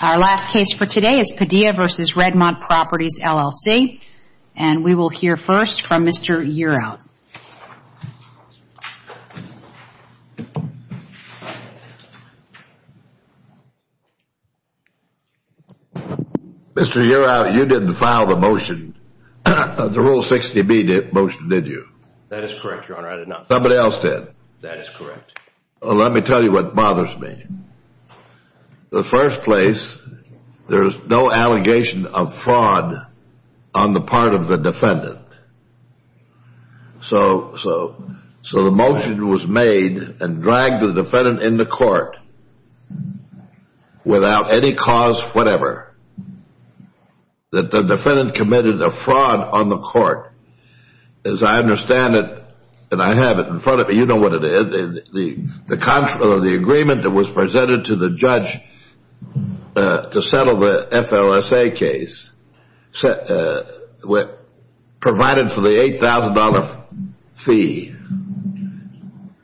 Our last case for today is Padilla v. Redmont Properties, LLC, and we will hear first from Mr. Uraut. Mr. Uraut, you didn't file the motion, the Rule 60B motion, did you? That is correct, Your Honor. I did not file it. Somebody else did? That is correct. Well, let me tell you what bothers me. In the first place, there is no allegation of fraud on the part of the defendant. So the motion was made and dragged the defendant into court without any cause whatever. The defendant committed a fraud on the court. As I understand it, and I have it in front of me, you know what it is. The agreement that was presented to the judge to settle the FLSA case provided for the $8,000 fee.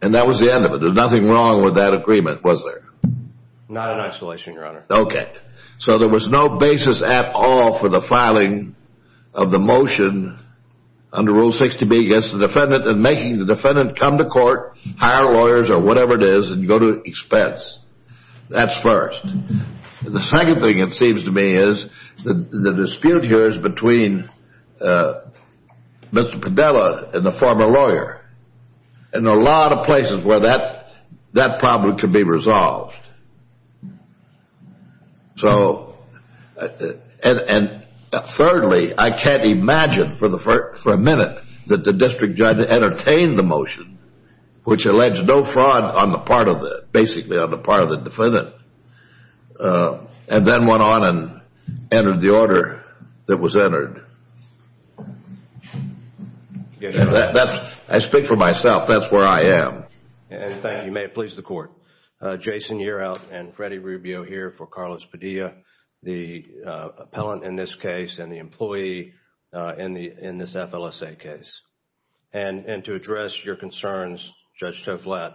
And that was the end of it. There was nothing wrong with that agreement, was there? Not in isolation, Your Honor. Okay. So there was no basis at all for the filing of the motion under Rule 60B against the defendant and making the defendant come to court, hire lawyers or whatever it is, and go to expense. That's first. The second thing, it seems to me, is the dispute here is between Mr. Padilla and the former lawyer. And there are a lot of places where that problem could be resolved. So, and thirdly, I can't imagine for a minute that the district judge entertained the motion, which alleged no fraud on the part of the, basically on the part of the defendant, and then went on and entered the order that was entered. Yes, Your Honor. I speak for myself. That's where I am. Thank you. May it please the Court. Jason Yerout and Freddie Rubio here for Carlos Padilla, the appellant in this case and the employee in this FLSA case. And to address your concerns, Judge Toflat,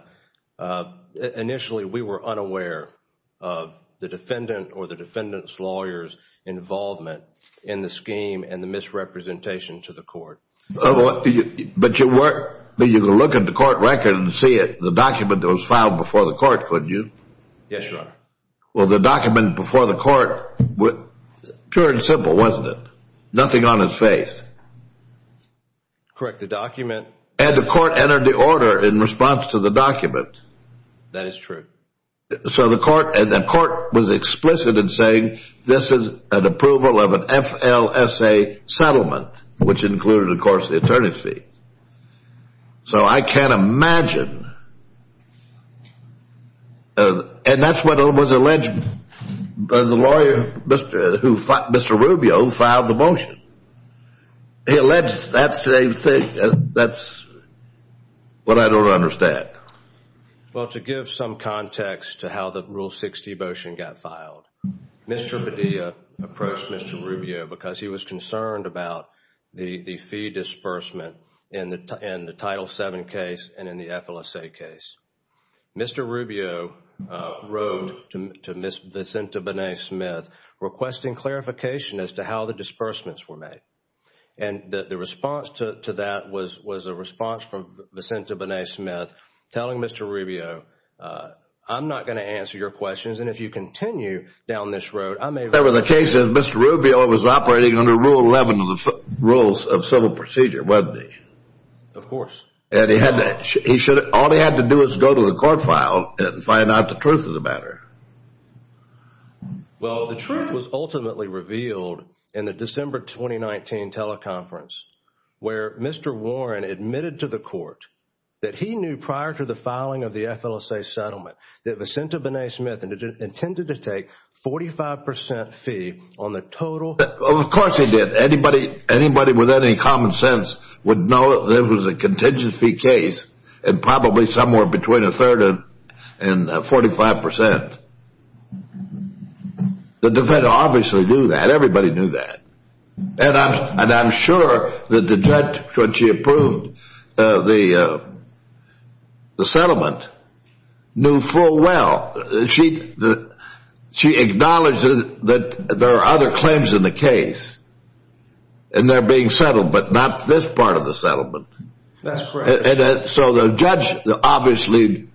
initially we were unaware of the defendant or the defendant's lawyer's involvement in the scheme and the misrepresentation to the court. But you can look at the court record and see it. The document was filed before the court, couldn't you? Yes, Your Honor. Well, the document before the court, pure and simple, wasn't it? Nothing on his face. Correct. The document. And the court entered the order in response to the document. That is true. So the court was explicit in saying this is an approval of an FLSA settlement, which included, of course, the attorney's fee. So I can't imagine. And that's what was alleged by the lawyer, Mr. Rubio, who filed the motion. He alleged that same thing. That's what I don't understand. Well, to give some context to how the Rule 60 motion got filed, Mr. Padilla approached Mr. Rubio because he was concerned about the fee disbursement in the Title VII case and in the FLSA case. Mr. Rubio wrote to Ms. Vicenta Bonet-Smith requesting clarification as to how the disbursements were made. And the response to that was a response from Vicenta Bonet-Smith telling Mr. Rubio, I'm not going to answer your questions. And if you continue down this road, I may. There was a case in which Mr. Rubio was operating under Rule 11 of the Rules of Civil Procedure, wasn't he? Of course. And all he had to do was go to the court file and find out the truth of the matter. Well, the truth was ultimately revealed in the December 2019 teleconference where Mr. Warren admitted to the court that he knew prior to the filing of the FLSA settlement that Vicenta Bonet-Smith intended to take 45% fee on the total. Of course he did. Anybody with any common sense would know that there was a contingency case and probably somewhere between a third and 45%. The defense obviously knew that. Everybody knew that. And I'm sure that the judge, when she approved the settlement, knew full well. She acknowledged that there are other claims in the case and they're being settled, but not this part of the settlement. That's correct. So the judge obviously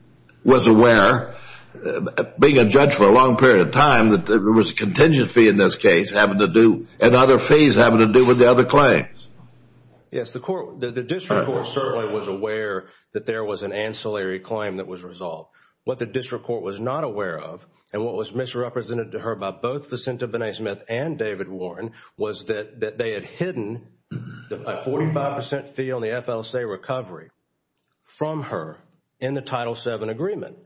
was aware, being a judge for a long period of time, that there was a contingency in this case and other fees having to do with the other claims. Yes, the district court certainly was aware that there was an ancillary claim that was resolved. What the district court was not aware of and what was misrepresented to her by both Vicenta Bonet-Smith and David Warren was that they had hidden a 45% fee on the FLSA recovery from her in the Title VII agreement.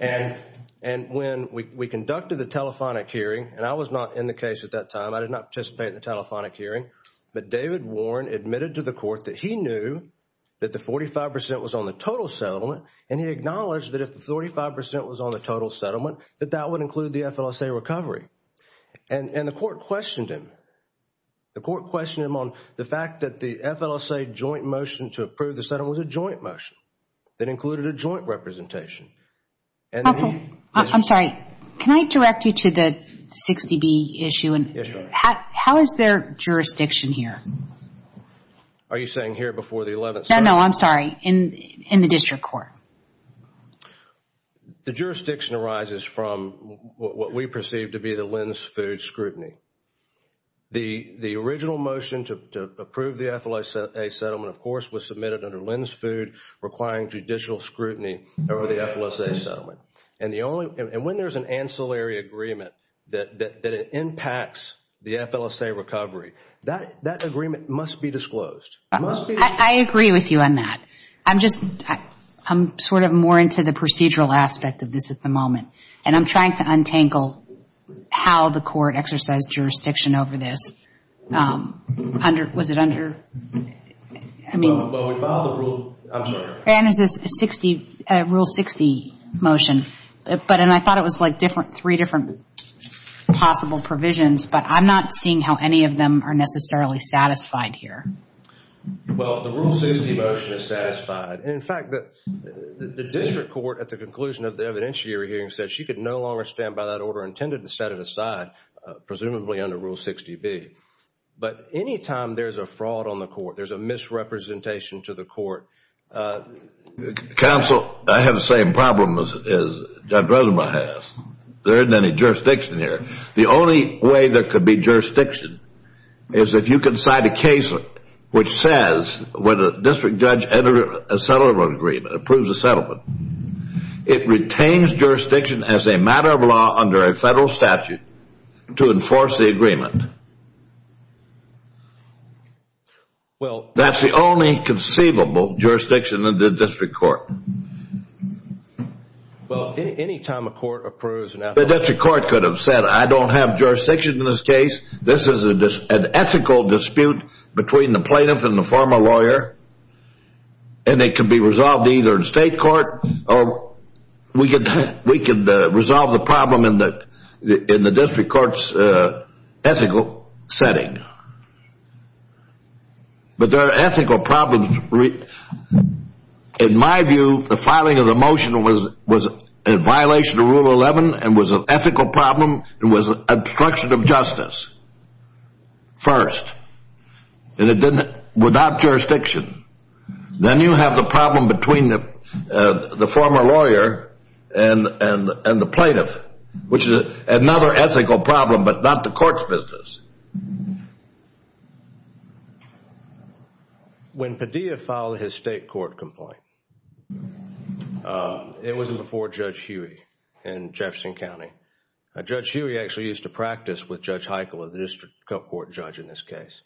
And when we conducted the telephonic hearing, and I was not in the case at that time, I did not participate in the telephonic hearing, but David Warren admitted to the court that he knew that the 45% was on the total settlement and he acknowledged that if the 45% was on the total settlement, that that would include the FLSA recovery. And the court questioned him. The court questioned him on the fact that the FLSA joint motion to approve the settlement was a joint motion that included a joint representation. I'm sorry. Can I direct you to the 60B issue? How is their jurisdiction here? Are you saying here before the 11th? No, I'm sorry. In the district court. The jurisdiction arises from what we perceive to be the lens food scrutiny. The original motion to approve the FLSA settlement, of course, was submitted under lens food requiring judicial scrutiny over the FLSA settlement. And when there's an ancillary agreement that impacts the FLSA recovery, that agreement must be disclosed. I agree with you on that. I'm sort of more into the procedural aspect of this at the moment. And I'm trying to untangle how the court exercised jurisdiction over this. Was it under? Well, we filed a rule. I'm sorry. And there's a Rule 60 motion. And I thought it was like three different possible provisions, but I'm not seeing how any of them are necessarily satisfied here. Well, the Rule 60 motion is satisfied. And, in fact, the district court, at the conclusion of the evidentiary hearing, said she could no longer stand by that order intended to set it aside, presumably under Rule 60B. But any time there's a fraud on the court, there's a misrepresentation to the court. Counsel, I have the same problem as Judge Rosenbach has. There isn't any jurisdiction here. The only way there could be jurisdiction is if you can cite a case which says when a district judge approves a settlement, it retains jurisdiction as a matter of law under a federal statute to enforce the agreement. That's the only conceivable jurisdiction of the district court. Well, any time a court approves an ethical dispute. The district court could have said, I don't have jurisdiction in this case. This is an ethical dispute between the plaintiff and the former lawyer, and it could be resolved either in state court or we could resolve the problem in the district court's ethical setting. But there are ethical problems. In my view, the filing of the motion was in violation of Rule 11 and was an ethical problem and was obstruction of justice first. And it did it without jurisdiction. Then you have the problem between the former lawyer and the plaintiff, which is another ethical problem but not the court's business. When Padilla filed his state court complaint, it was before Judge Huey in Jefferson County. Judge Huey actually used to practice with Judge Heichel, the district court judge in this case.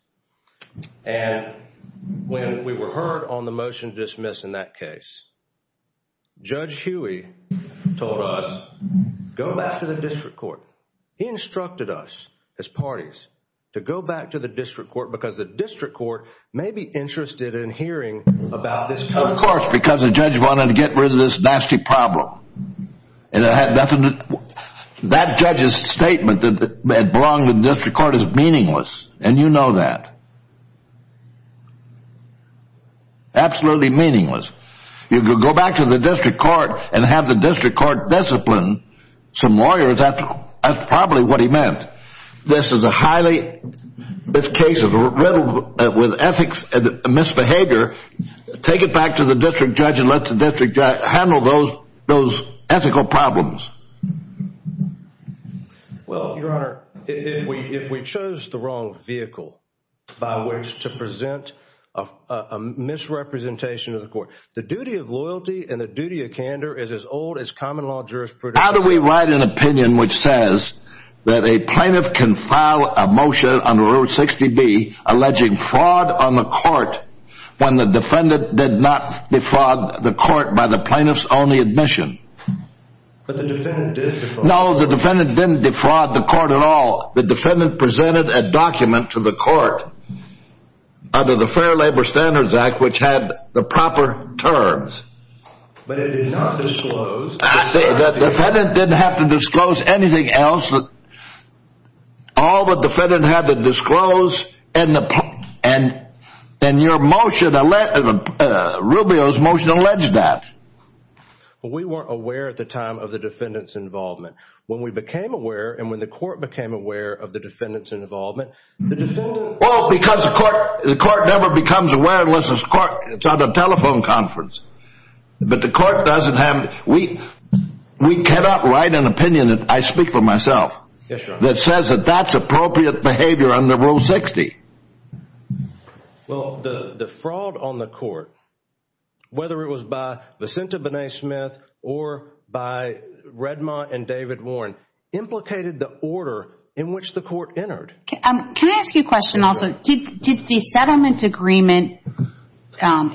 And when we were heard on the motion to dismiss in that case, Judge Huey told us, go back to the district court. He instructed us as parties to go back to the district court because the district court may be interested in hearing about this. Of course, because the judge wanted to get rid of this nasty problem. That judge's statement that it belonged to the district court is meaningless, and you know that. Absolutely meaningless. You could go back to the district court and have the district court discipline some lawyers. That's probably what he meant. This is a highly – this case is riddled with ethics and misbehavior. Take it back to the district judge and let the district judge handle those ethical problems. Well, Your Honor, if we chose the wrong vehicle by which to present a misrepresentation of the court, the duty of loyalty and the duty of candor is as old as common law jurisprudence. How do we write an opinion which says that a plaintiff can file a motion under Rule 60B alleging fraud on the court when the defendant did not defraud the court by the plaintiff's only admission? But the defendant did defraud. No, the defendant didn't defraud the court at all. The defendant presented a document to the court under the Fair Labor Standards Act which had the proper terms. But it did not disclose. The defendant didn't have to disclose anything else. All the defendant had to disclose and your motion, Rubio's motion alleged that. Well, we weren't aware at the time of the defendant's involvement. When we became aware and when the court became aware of the defendant's involvement, the defendant – Well, because the court never becomes aware unless it's at a telephone conference. But the court doesn't have – we cannot write an opinion that I speak for myself that says that that's appropriate behavior under Rule 60. Well, the fraud on the court, whether it was by Vicinta Bonet-Smith or by Redmont and David Warren, implicated the order in which the court entered. Can I ask you a question also? Did the settlement agreement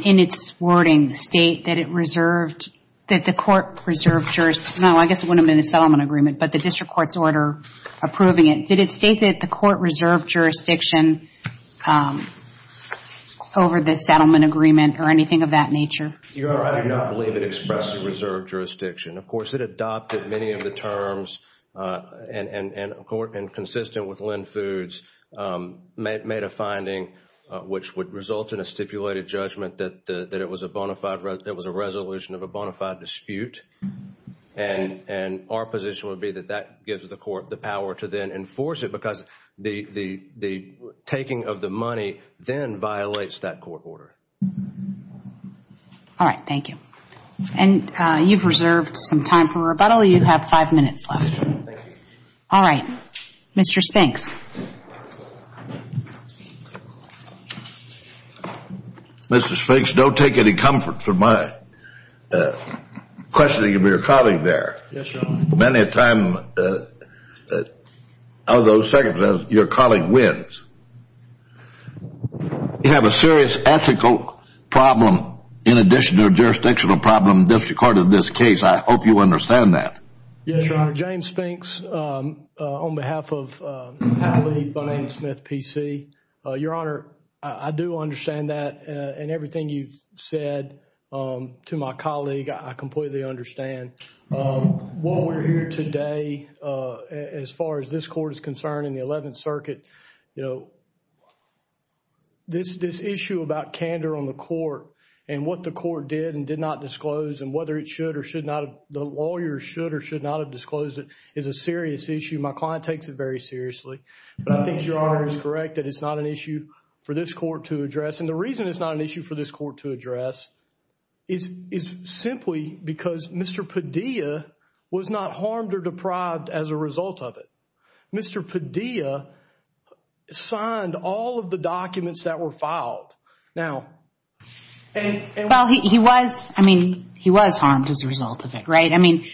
in its wording state that it reserved – that the court preserved – no, I guess it wouldn't have been a settlement agreement, but the district court's order approving it. Did it state that the court reserved jurisdiction over the settlement agreement or anything of that nature? I do not believe it expressed the reserved jurisdiction. Of course, it adopted many of the terms and consistent with Lynn Foods, made a finding which would result in a stipulated judgment that it was a resolution of a bona fide dispute. And our position would be that that gives the court the power to then enforce it because the taking of the money then violates that court order. All right. Thank you. And you've reserved some time for rebuttal. You have five minutes left. All right. Mr. Spinks. Mr. Spinks, don't take any comfort for my questioning of your colleague there. Yes, Your Honor. Many a time, although second to that, your colleague wins. You have a serious ethical problem in addition to a jurisdictional problem in the district court in this case. I hope you understand that. Yes, Your Honor. Your Honor, James Spinks on behalf of Allie Bonanne-Smith PC. Your Honor, I do understand that and everything you've said to my colleague, I completely understand. While we're here today, as far as this court is concerned in the Eleventh Circuit, you know, this issue about candor on the court and what the court did and did not disclose and whether it should or should not have, whether the lawyer should or should not have disclosed it is a serious issue. My client takes it very seriously. But I think Your Honor is correct that it's not an issue for this court to address. And the reason it's not an issue for this court to address is simply because Mr. Padilla was not harmed or deprived as a result of it. Mr. Padilla signed all of the documents that were filed. Well, he was, I mean, he was harmed as a result of it, right? I mean,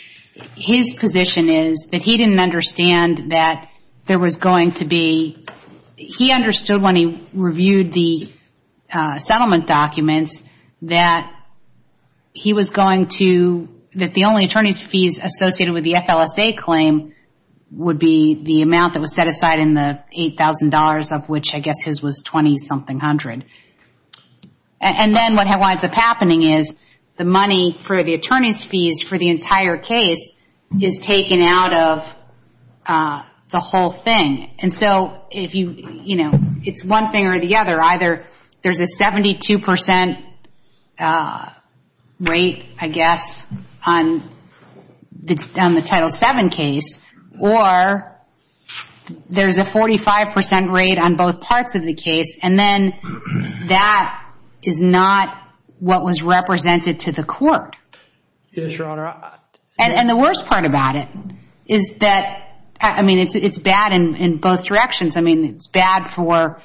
his position is that he didn't understand that there was going to be, he understood when he reviewed the settlement documents that he was going to, that the only attorney's fees associated with the FLSA claim would be the amount that was set aside in the $8,000 of which I guess his was 20-something hundred. And then what winds up happening is the money for the attorney's fees for the entire case is taken out of the whole thing. And so if you, you know, it's one thing or the other. Either there's a 72% rate, I guess, on the Title VII case, or there's a 45% rate on both parts of the case. And then that is not what was represented to the court. Yes, Your Honor. And the worst part about it is that, I mean, it's bad in both directions. I mean, it's bad for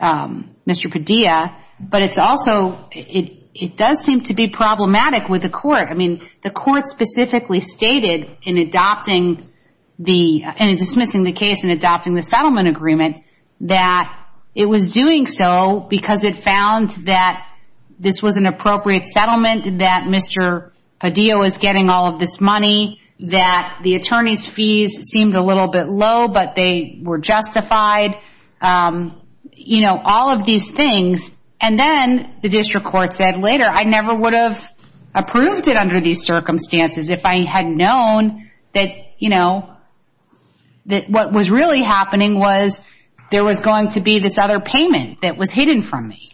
Mr. Padilla. But it's also, it does seem to be problematic with the court. I mean, the court specifically stated in adopting the, in dismissing the case and adopting the settlement agreement, that it was doing so because it found that this was an appropriate settlement, that Mr. Padilla was getting all of this money, that the attorney's fees seemed a little bit low, but they were justified. You know, all of these things. And then the district court said later, I never would have approved it under these circumstances if I had known that, you know, that what was really happening was there was going to be this other payment that was hidden from me.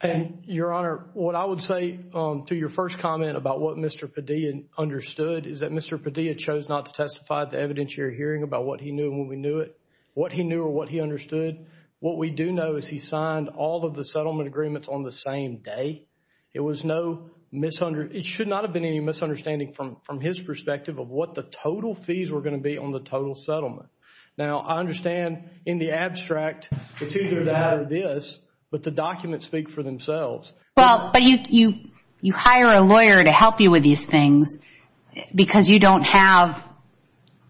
And, Your Honor, what I would say to your first comment about what Mr. Padilla understood is that Mr. Padilla chose not to testify at the evidentiary hearing about what he knew and when we knew it, what he knew or what he understood. What we do know is he signed all of the settlement agreements on the same day. It was no, it should not have been any misunderstanding from his perspective of what the total fees were going to be on the total settlement. Now, I understand in the abstract it's either that or this, but the documents speak for themselves. Well, but you hire a lawyer to help you with these things because you don't have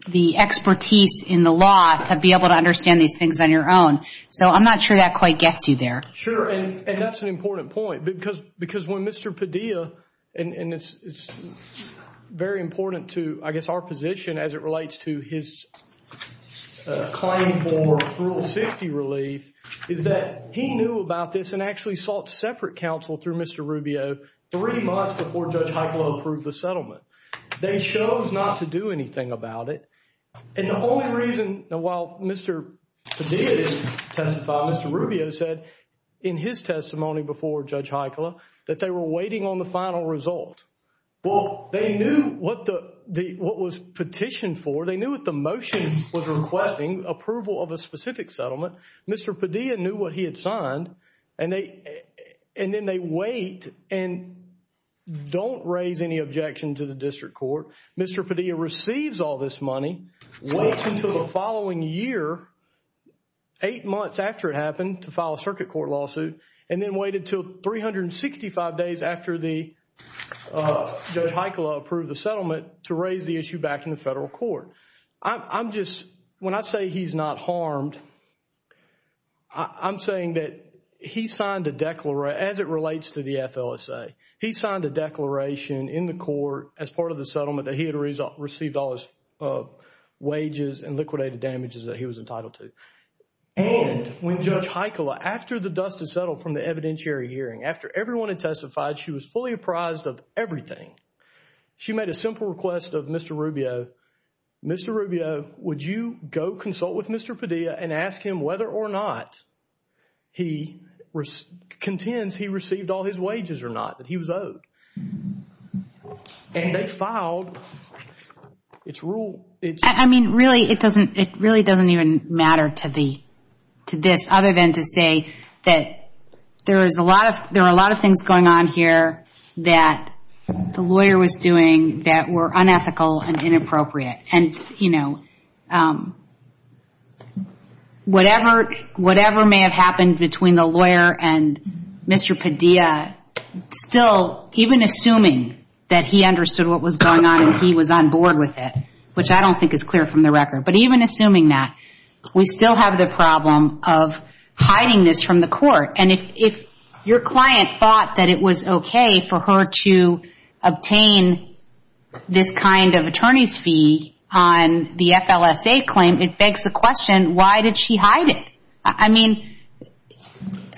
the expertise in the law to be able to understand these things on your own. So I'm not sure that quite gets you there. Sure, and that's an important point. Because when Mr. Padilla, and it's very important to, I guess, our position as it relates to his claim for Rule 60 relief, is that he knew about this and actually sought separate counsel through Mr. Rubio three months before Judge Heikkila approved the settlement. They chose not to do anything about it. And the only reason, while Mr. Padilla didn't testify, Mr. Rubio said in his testimony before Judge Heikkila that they were waiting on the final result. Well, they knew what was petitioned for. They knew what the motion was requesting, approval of a specific settlement. Mr. Padilla knew what he had signed, and then they wait and don't raise any objection to the district court. Mr. Padilla receives all this money, waits until the following year, eight months after it happened, to file a circuit court lawsuit, and then waited until 365 days after Judge Heikkila approved the settlement to raise the issue back in the federal court. I'm just, when I say he's not harmed, I'm saying that he signed a declaration, as it relates to the FLSA, he signed a declaration in the court as part of the settlement that he had received all his wages and liquidated damages that he was entitled to. And when Judge Heikkila, after the dust had settled from the evidentiary hearing, after everyone had testified, she was fully apprised of everything. She made a simple request of Mr. Rubio, Mr. Rubio, would you go consult with Mr. Padilla and ask him whether or not he contends he received all his wages or not, that he was owed? And they filed its rule. I mean, really, it really doesn't even matter to this, other than to say that there are a lot of things going on here that the lawyer was doing that were unethical and inappropriate. And, you know, whatever may have happened between the lawyer and Mr. Padilla, still, even assuming that he understood what was going on and he was on board with it, which I don't think is clear from the record, but even assuming that, we still have the problem of hiding this from the court. And if your client thought that it was okay for her to obtain this kind of attorney's fee on the FLSA claim, it begs the question, why did she hide it? I mean,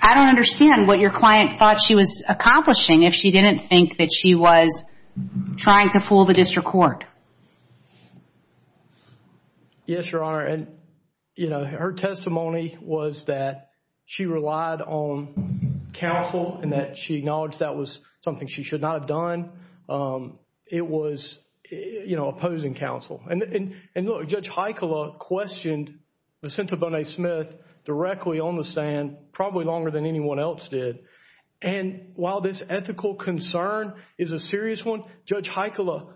I don't understand what your client thought she was accomplishing if she didn't think that she was trying to fool the district court. Yes, Your Honor. And, you know, her testimony was that she relied on counsel and that she acknowledged that was something she should not have done. It was, you know, opposing counsel. And look, Judge Heikkila questioned Lucinda Bonet-Smith directly on the stand probably longer than anyone else did. And while this ethical concern is a serious one, Judge Heikkila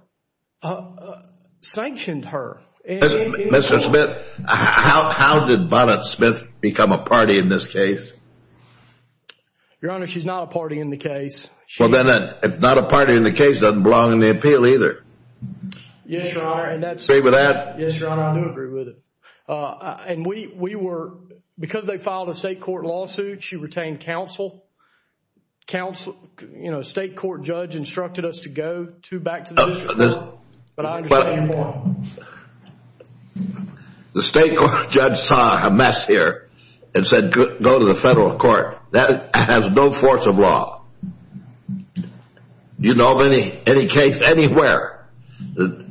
sanctioned her. Mr. Smith, how did Bonet-Smith become a party in this case? Your Honor, she's not a party in the case. Well, then, if not a party in the case, doesn't belong in the appeal either. Yes, Your Honor. Do you agree with that? Yes, Your Honor, I do agree with it. And we were, because they filed a state court lawsuit, she retained counsel. State court judge instructed us to go back to the district court. But I understand your point. The state court judge saw a mess here and said go to the federal court. That has no force of law. Do you know of any case anywhere that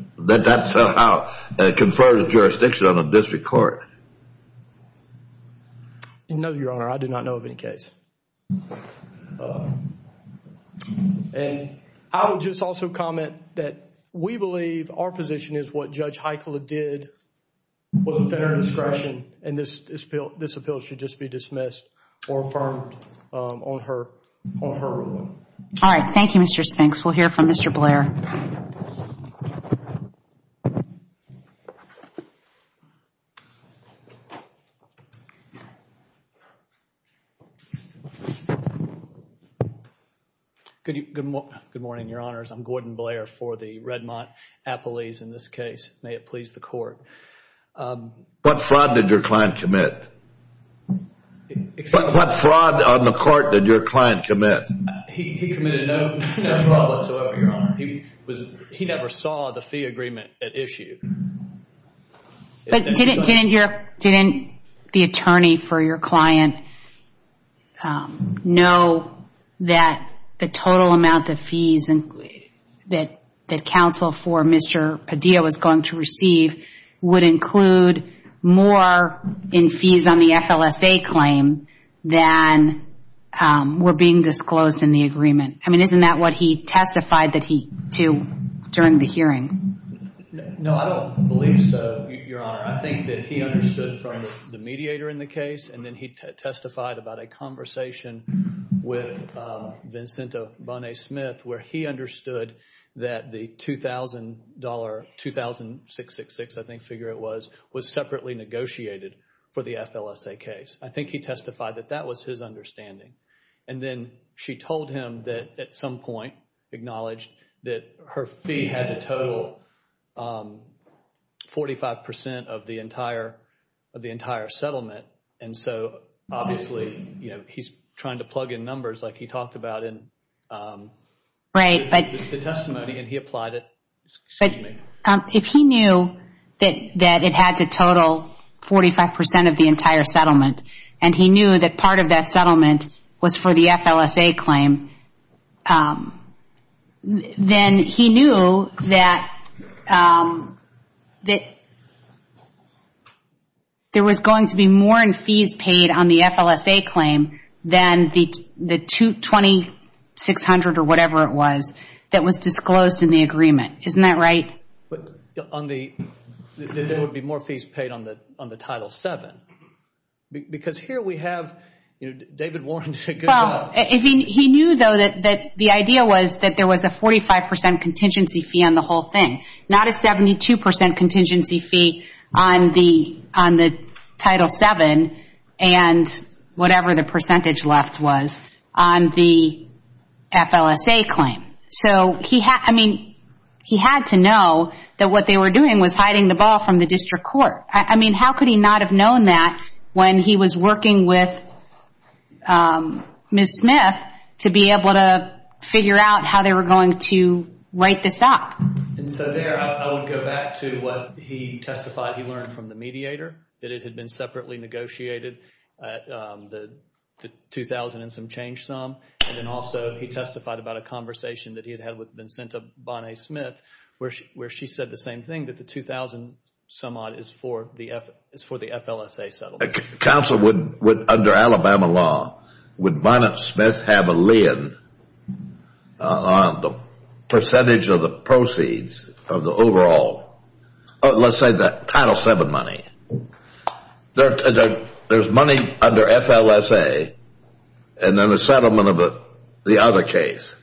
that somehow confers jurisdiction on a district court? No, Your Honor, I do not know of any case. And I would just also comment that we believe our position is what Judge Heikkila did was at her discretion. And this appeal should just be dismissed or affirmed on her ruling. All right. Thank you, Mr. Spinks. We'll hear from Mr. Blair. Good morning, Your Honors. I'm Gordon Blair for the Redmont Appellees in this case. May it please the Court. What fraud did your client commit? What fraud on the Court did your client commit? He was a good lawyer. He was a good lawyer. He never saw the fee agreement at issue. Didn't the attorney for your client know that the total amount of fees that counsel for Mr. Padilla was going to receive would include more in fees on the FLSA claim than were being disclosed in the agreement? I mean, isn't that what he testified to during the hearing? No, I don't believe so, Your Honor. I think that he understood from the mediator in the case and then he testified about a conversation with Vincente Bonnet-Smith where he understood that the $2,000, $2,666, I think, figure it was, was separately negotiated for the FLSA case. I think he testified that that was his understanding. And then she told him that at some point acknowledged that her fee had to total 45% of the entire settlement. And so obviously, you know, he's trying to plug in numbers like he talked about in the testimony and he applied it. Excuse me. If he knew that it had to total 45% of the entire settlement and he knew that part of that settlement was for the FLSA claim, then he knew that there was going to be more in fees paid on the FLSA claim than the $2,600 or whatever it was that was disclosed in the agreement. Isn't that right? But on the, there would be more fees paid on the Title VII. Because here we have, you know, David Warren did a good job. He knew, though, that the idea was that there was a 45% contingency fee on the whole thing, not a 72% contingency fee on the Title VII and whatever the percentage left was on the FLSA claim. So, I mean, he had to know that what they were doing was hiding the ball from the district court. I mean, how could he not have known that when he was working with Ms. Smith to be able to figure out how they were going to write this up? And so there, I would go back to what he testified he learned from the mediator, that it had been separately negotiated, the $2,000 and some change sum. And then also he testified about a conversation that he had had with Vincenta Bonnet-Smith where she said the same thing, that the $2,000-some-odd is for the FLSA settlement. Counsel, would, under Alabama law, would Bonnet-Smith have a lien on the percentage of the proceeds of the overall, let's say the Title VII money? There's money under FLSA and then a settlement of the other case.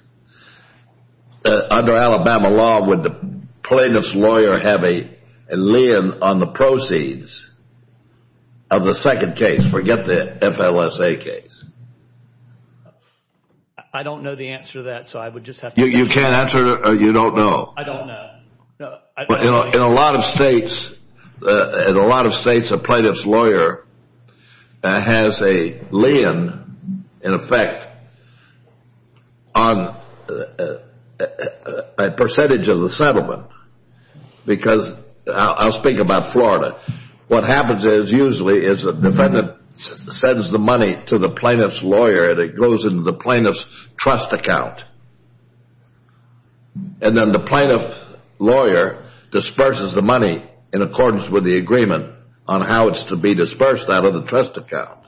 Under Alabama law, would the plaintiff's lawyer have a lien on the proceeds of the second case? Forget the FLSA case. I don't know the answer to that, so I would just have to- You can't answer it or you don't know? I don't know. In a lot of states, a plaintiff's lawyer has a lien, in effect, on a percentage of the settlement. Because I'll speak about Florida. What happens is usually is the defendant sends the money to the plaintiff's lawyer and it goes into the plaintiff's trust account. And then the plaintiff's lawyer disperses the money in accordance with the agreement on how it's to be dispersed out of the trust account.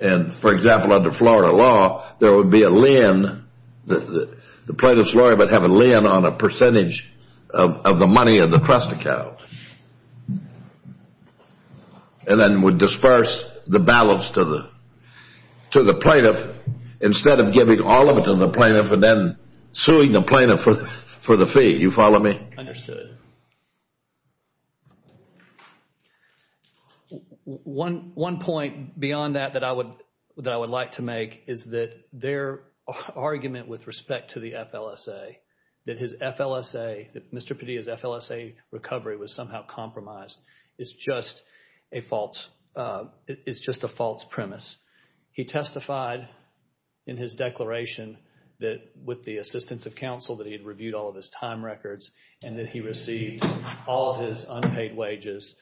And, for example, under Florida law, there would be a lien. The plaintiff's lawyer would have a lien on a percentage of the money in the trust account. And then would disperse the balance to the plaintiff instead of giving all of it to the plaintiff and then suing the plaintiff for the fee. You follow me? Understood. One point beyond that that I would like to make is that their argument with respect to the FLSA, that Mr. Padilla's FLSA recovery was somehow compromised, is just a false premise. He testified in his declaration that, with the assistance of counsel, that he had reviewed all of his time records and that he received all of his unpaid wages,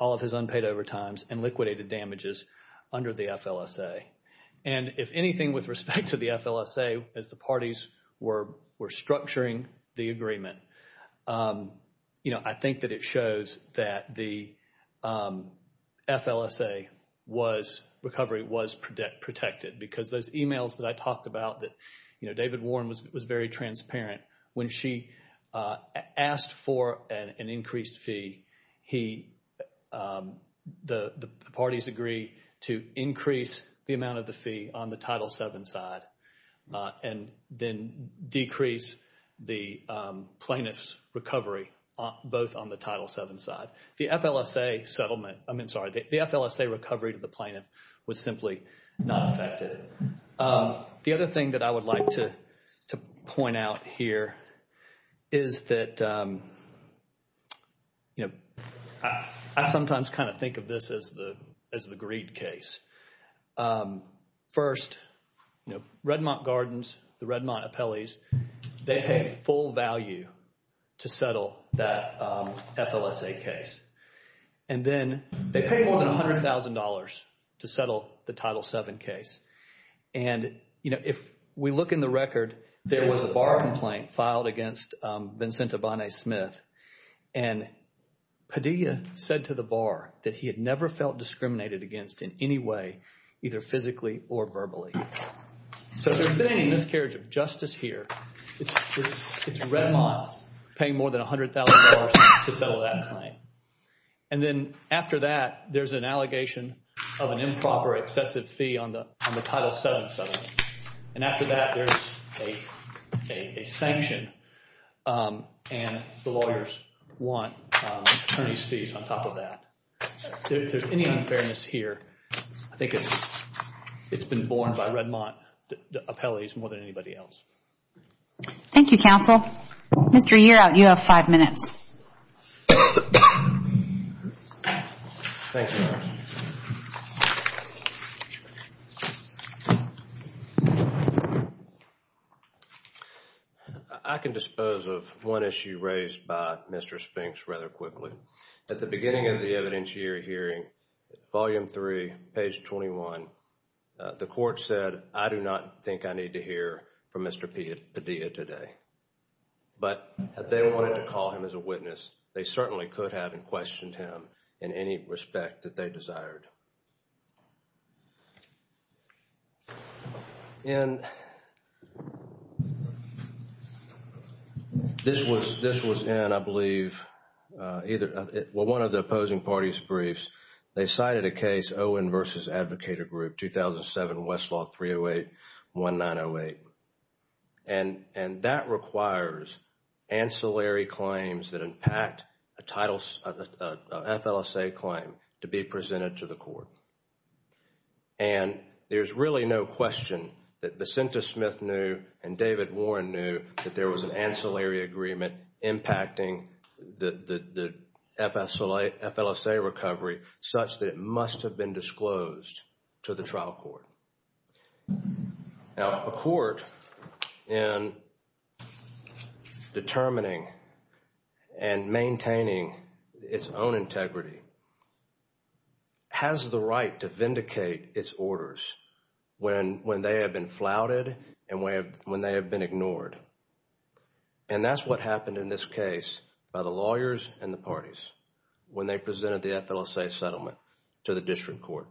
all of his unpaid overtimes and liquidated damages under the FLSA. And if anything, with respect to the FLSA, as the parties were structuring the agreement, you know, I think that it shows that the FLSA was, recovery was protected. Because those emails that I talked about that, you know, David Warren was very transparent. When she asked for an increased fee, he, the parties agree to increase the amount of the fee on the Title VII side and then decrease the plaintiff's recovery both on the Title VII side. The FLSA settlement, I mean, sorry, the FLSA recovery to the plaintiff was simply not affected. The other thing that I would like to point out here is that, you know, I sometimes kind of think of this as the greed case. First, you know, Redmont Gardens, the Redmont appellees, they paid full value to settle that FLSA case. And then they paid more than $100,000 to settle the Title VII case. And, you know, if we look in the record, there was a bar complaint filed against Vincente Bonnet Smith. And Padilla said to the bar that he had never felt discriminated against in any way, either physically or verbally. So if there's been any miscarriage of justice here, it's Redmont paying more than $100,000 to settle that claim. And then after that, there's an allegation of an improper excessive fee on the Title VII side. And after that, there's a sanction. And the lawyers want attorney's fees on top of that. If there's any unfairness here, I think it's been borne by Redmont appellees more than anybody else. Thank you, counsel. Mr. Yearout, you have five minutes. Thank you. I can dispose of one issue raised by Mr. Spinks rather quickly. At the beginning of the evidentiary hearing, volume three, page 21, the court said, I do not think I need to hear from Mr. Padilla today. But they wanted to call him as a witness. They certainly could have, and questioned him in any respect that they desired. And this was in, I believe, either one of the opposing parties' briefs. They cited a case, Owen v. Advocator Group, 2007, Westlaw 308-1908. And that requires ancillary claims that impact a FLSA claim to be presented to the court. And there's really no question that Vicenta Smith knew and David Warren knew that there was an ancillary agreement impacting the FLSA recovery such that it must have been disclosed to the trial court. Now, a court in determining and maintaining its own integrity has the right to vindicate its orders when they have been flouted and when they have been ignored. And that's what happened in this case by the lawyers and the parties when they presented the FLSA settlement to the district court.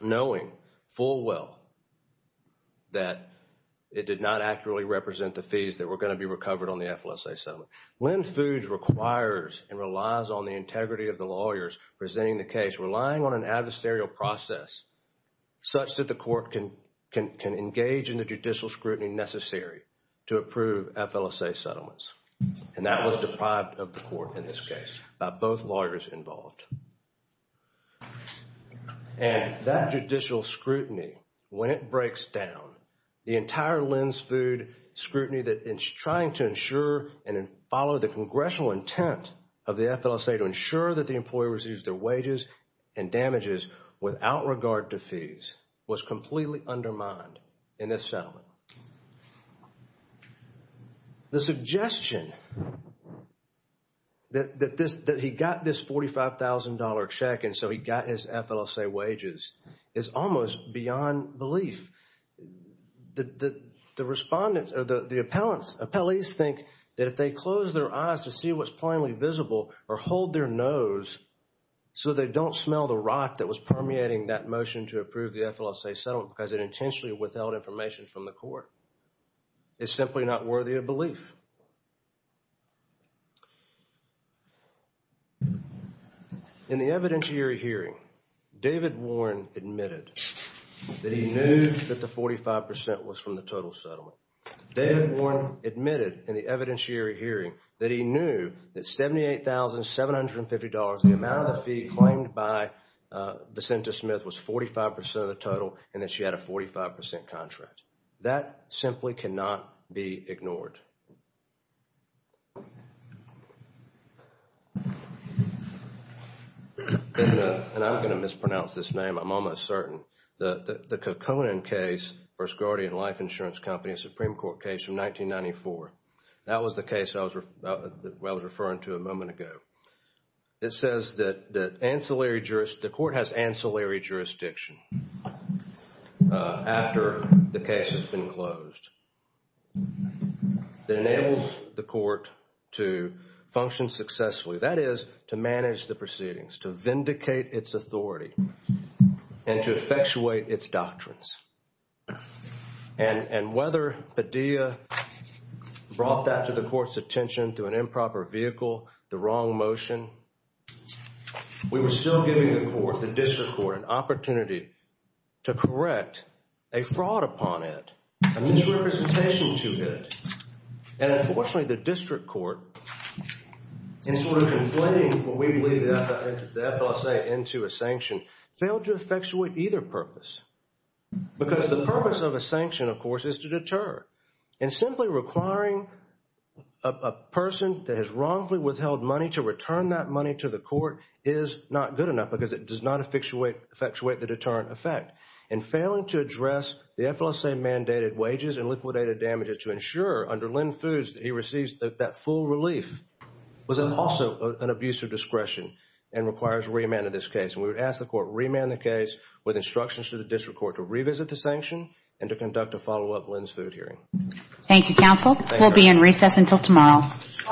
Knowing full well that it did not accurately represent the fees that were going to be recovered on the FLSA settlement. Lynn Fudge requires and relies on the integrity of the lawyers presenting the case, relying on an adversarial process such that the court can engage in the judicial scrutiny necessary to approve FLSA settlements. And that was deprived of the court in this case by both lawyers involved. And that judicial scrutiny, when it breaks down, the entire Lynn's Food scrutiny that is trying to ensure and follow the congressional intent of the FLSA to ensure that the employee receives their wages and damages without regard to fees was completely undermined in this settlement. The suggestion that he got this $45,000 check and so he got his FLSA wages is almost beyond belief. The respondents, the appellants, appellees think that if they close their eyes to see what's plainly visible or hold their nose so they don't smell the rot that was permeating that motion to approve the FLSA settlement because it intentionally withheld information from the court. It's simply not worthy of belief. In the evidentiary hearing, David Warren admitted that he knew that the 45% was from the total settlement. David Warren admitted in the evidentiary hearing that he knew that $78,750, the amount of the fee claimed by Vicenta Smith was 45% of the total and that she had a 45% contract. That simply cannot be ignored. And I'm going to mispronounce this name. I'm almost certain. The Kokkonen case, First Guardian Life Insurance Company, Supreme Court case from 1994. That was the case I was referring to a moment ago. It says that the court has ancillary jurisdiction after the case has been closed. That enables the court to function successfully. That is to manage the proceedings, to vindicate its authority, and to effectuate its doctrines. And whether Padilla brought that to the court's attention through an improper vehicle, the wrong motion, we were still giving the court, the district court, an opportunity to correct a fraud upon it. A misrepresentation to it. And unfortunately, the district court, in sort of inflating what we believe the FLSA into a sanction, failed to effectuate either purpose. Because the purpose of a sanction, of course, is to deter. And simply requiring a person that has wrongfully withheld money to return that money to the court is not good enough because it does not effectuate the deterrent effect. And failing to address the FLSA-mandated wages and liquidated damages to ensure under Lynn Foods that he receives that full relief was also an abuse of discretion and requires remand of this case. And we would ask the court to remand the case with instructions to the district court to revisit the sanction and to conduct a follow-up Lynn Foods hearing. Thank you, counsel. We'll be in recess until tomorrow. All rise. Thank you.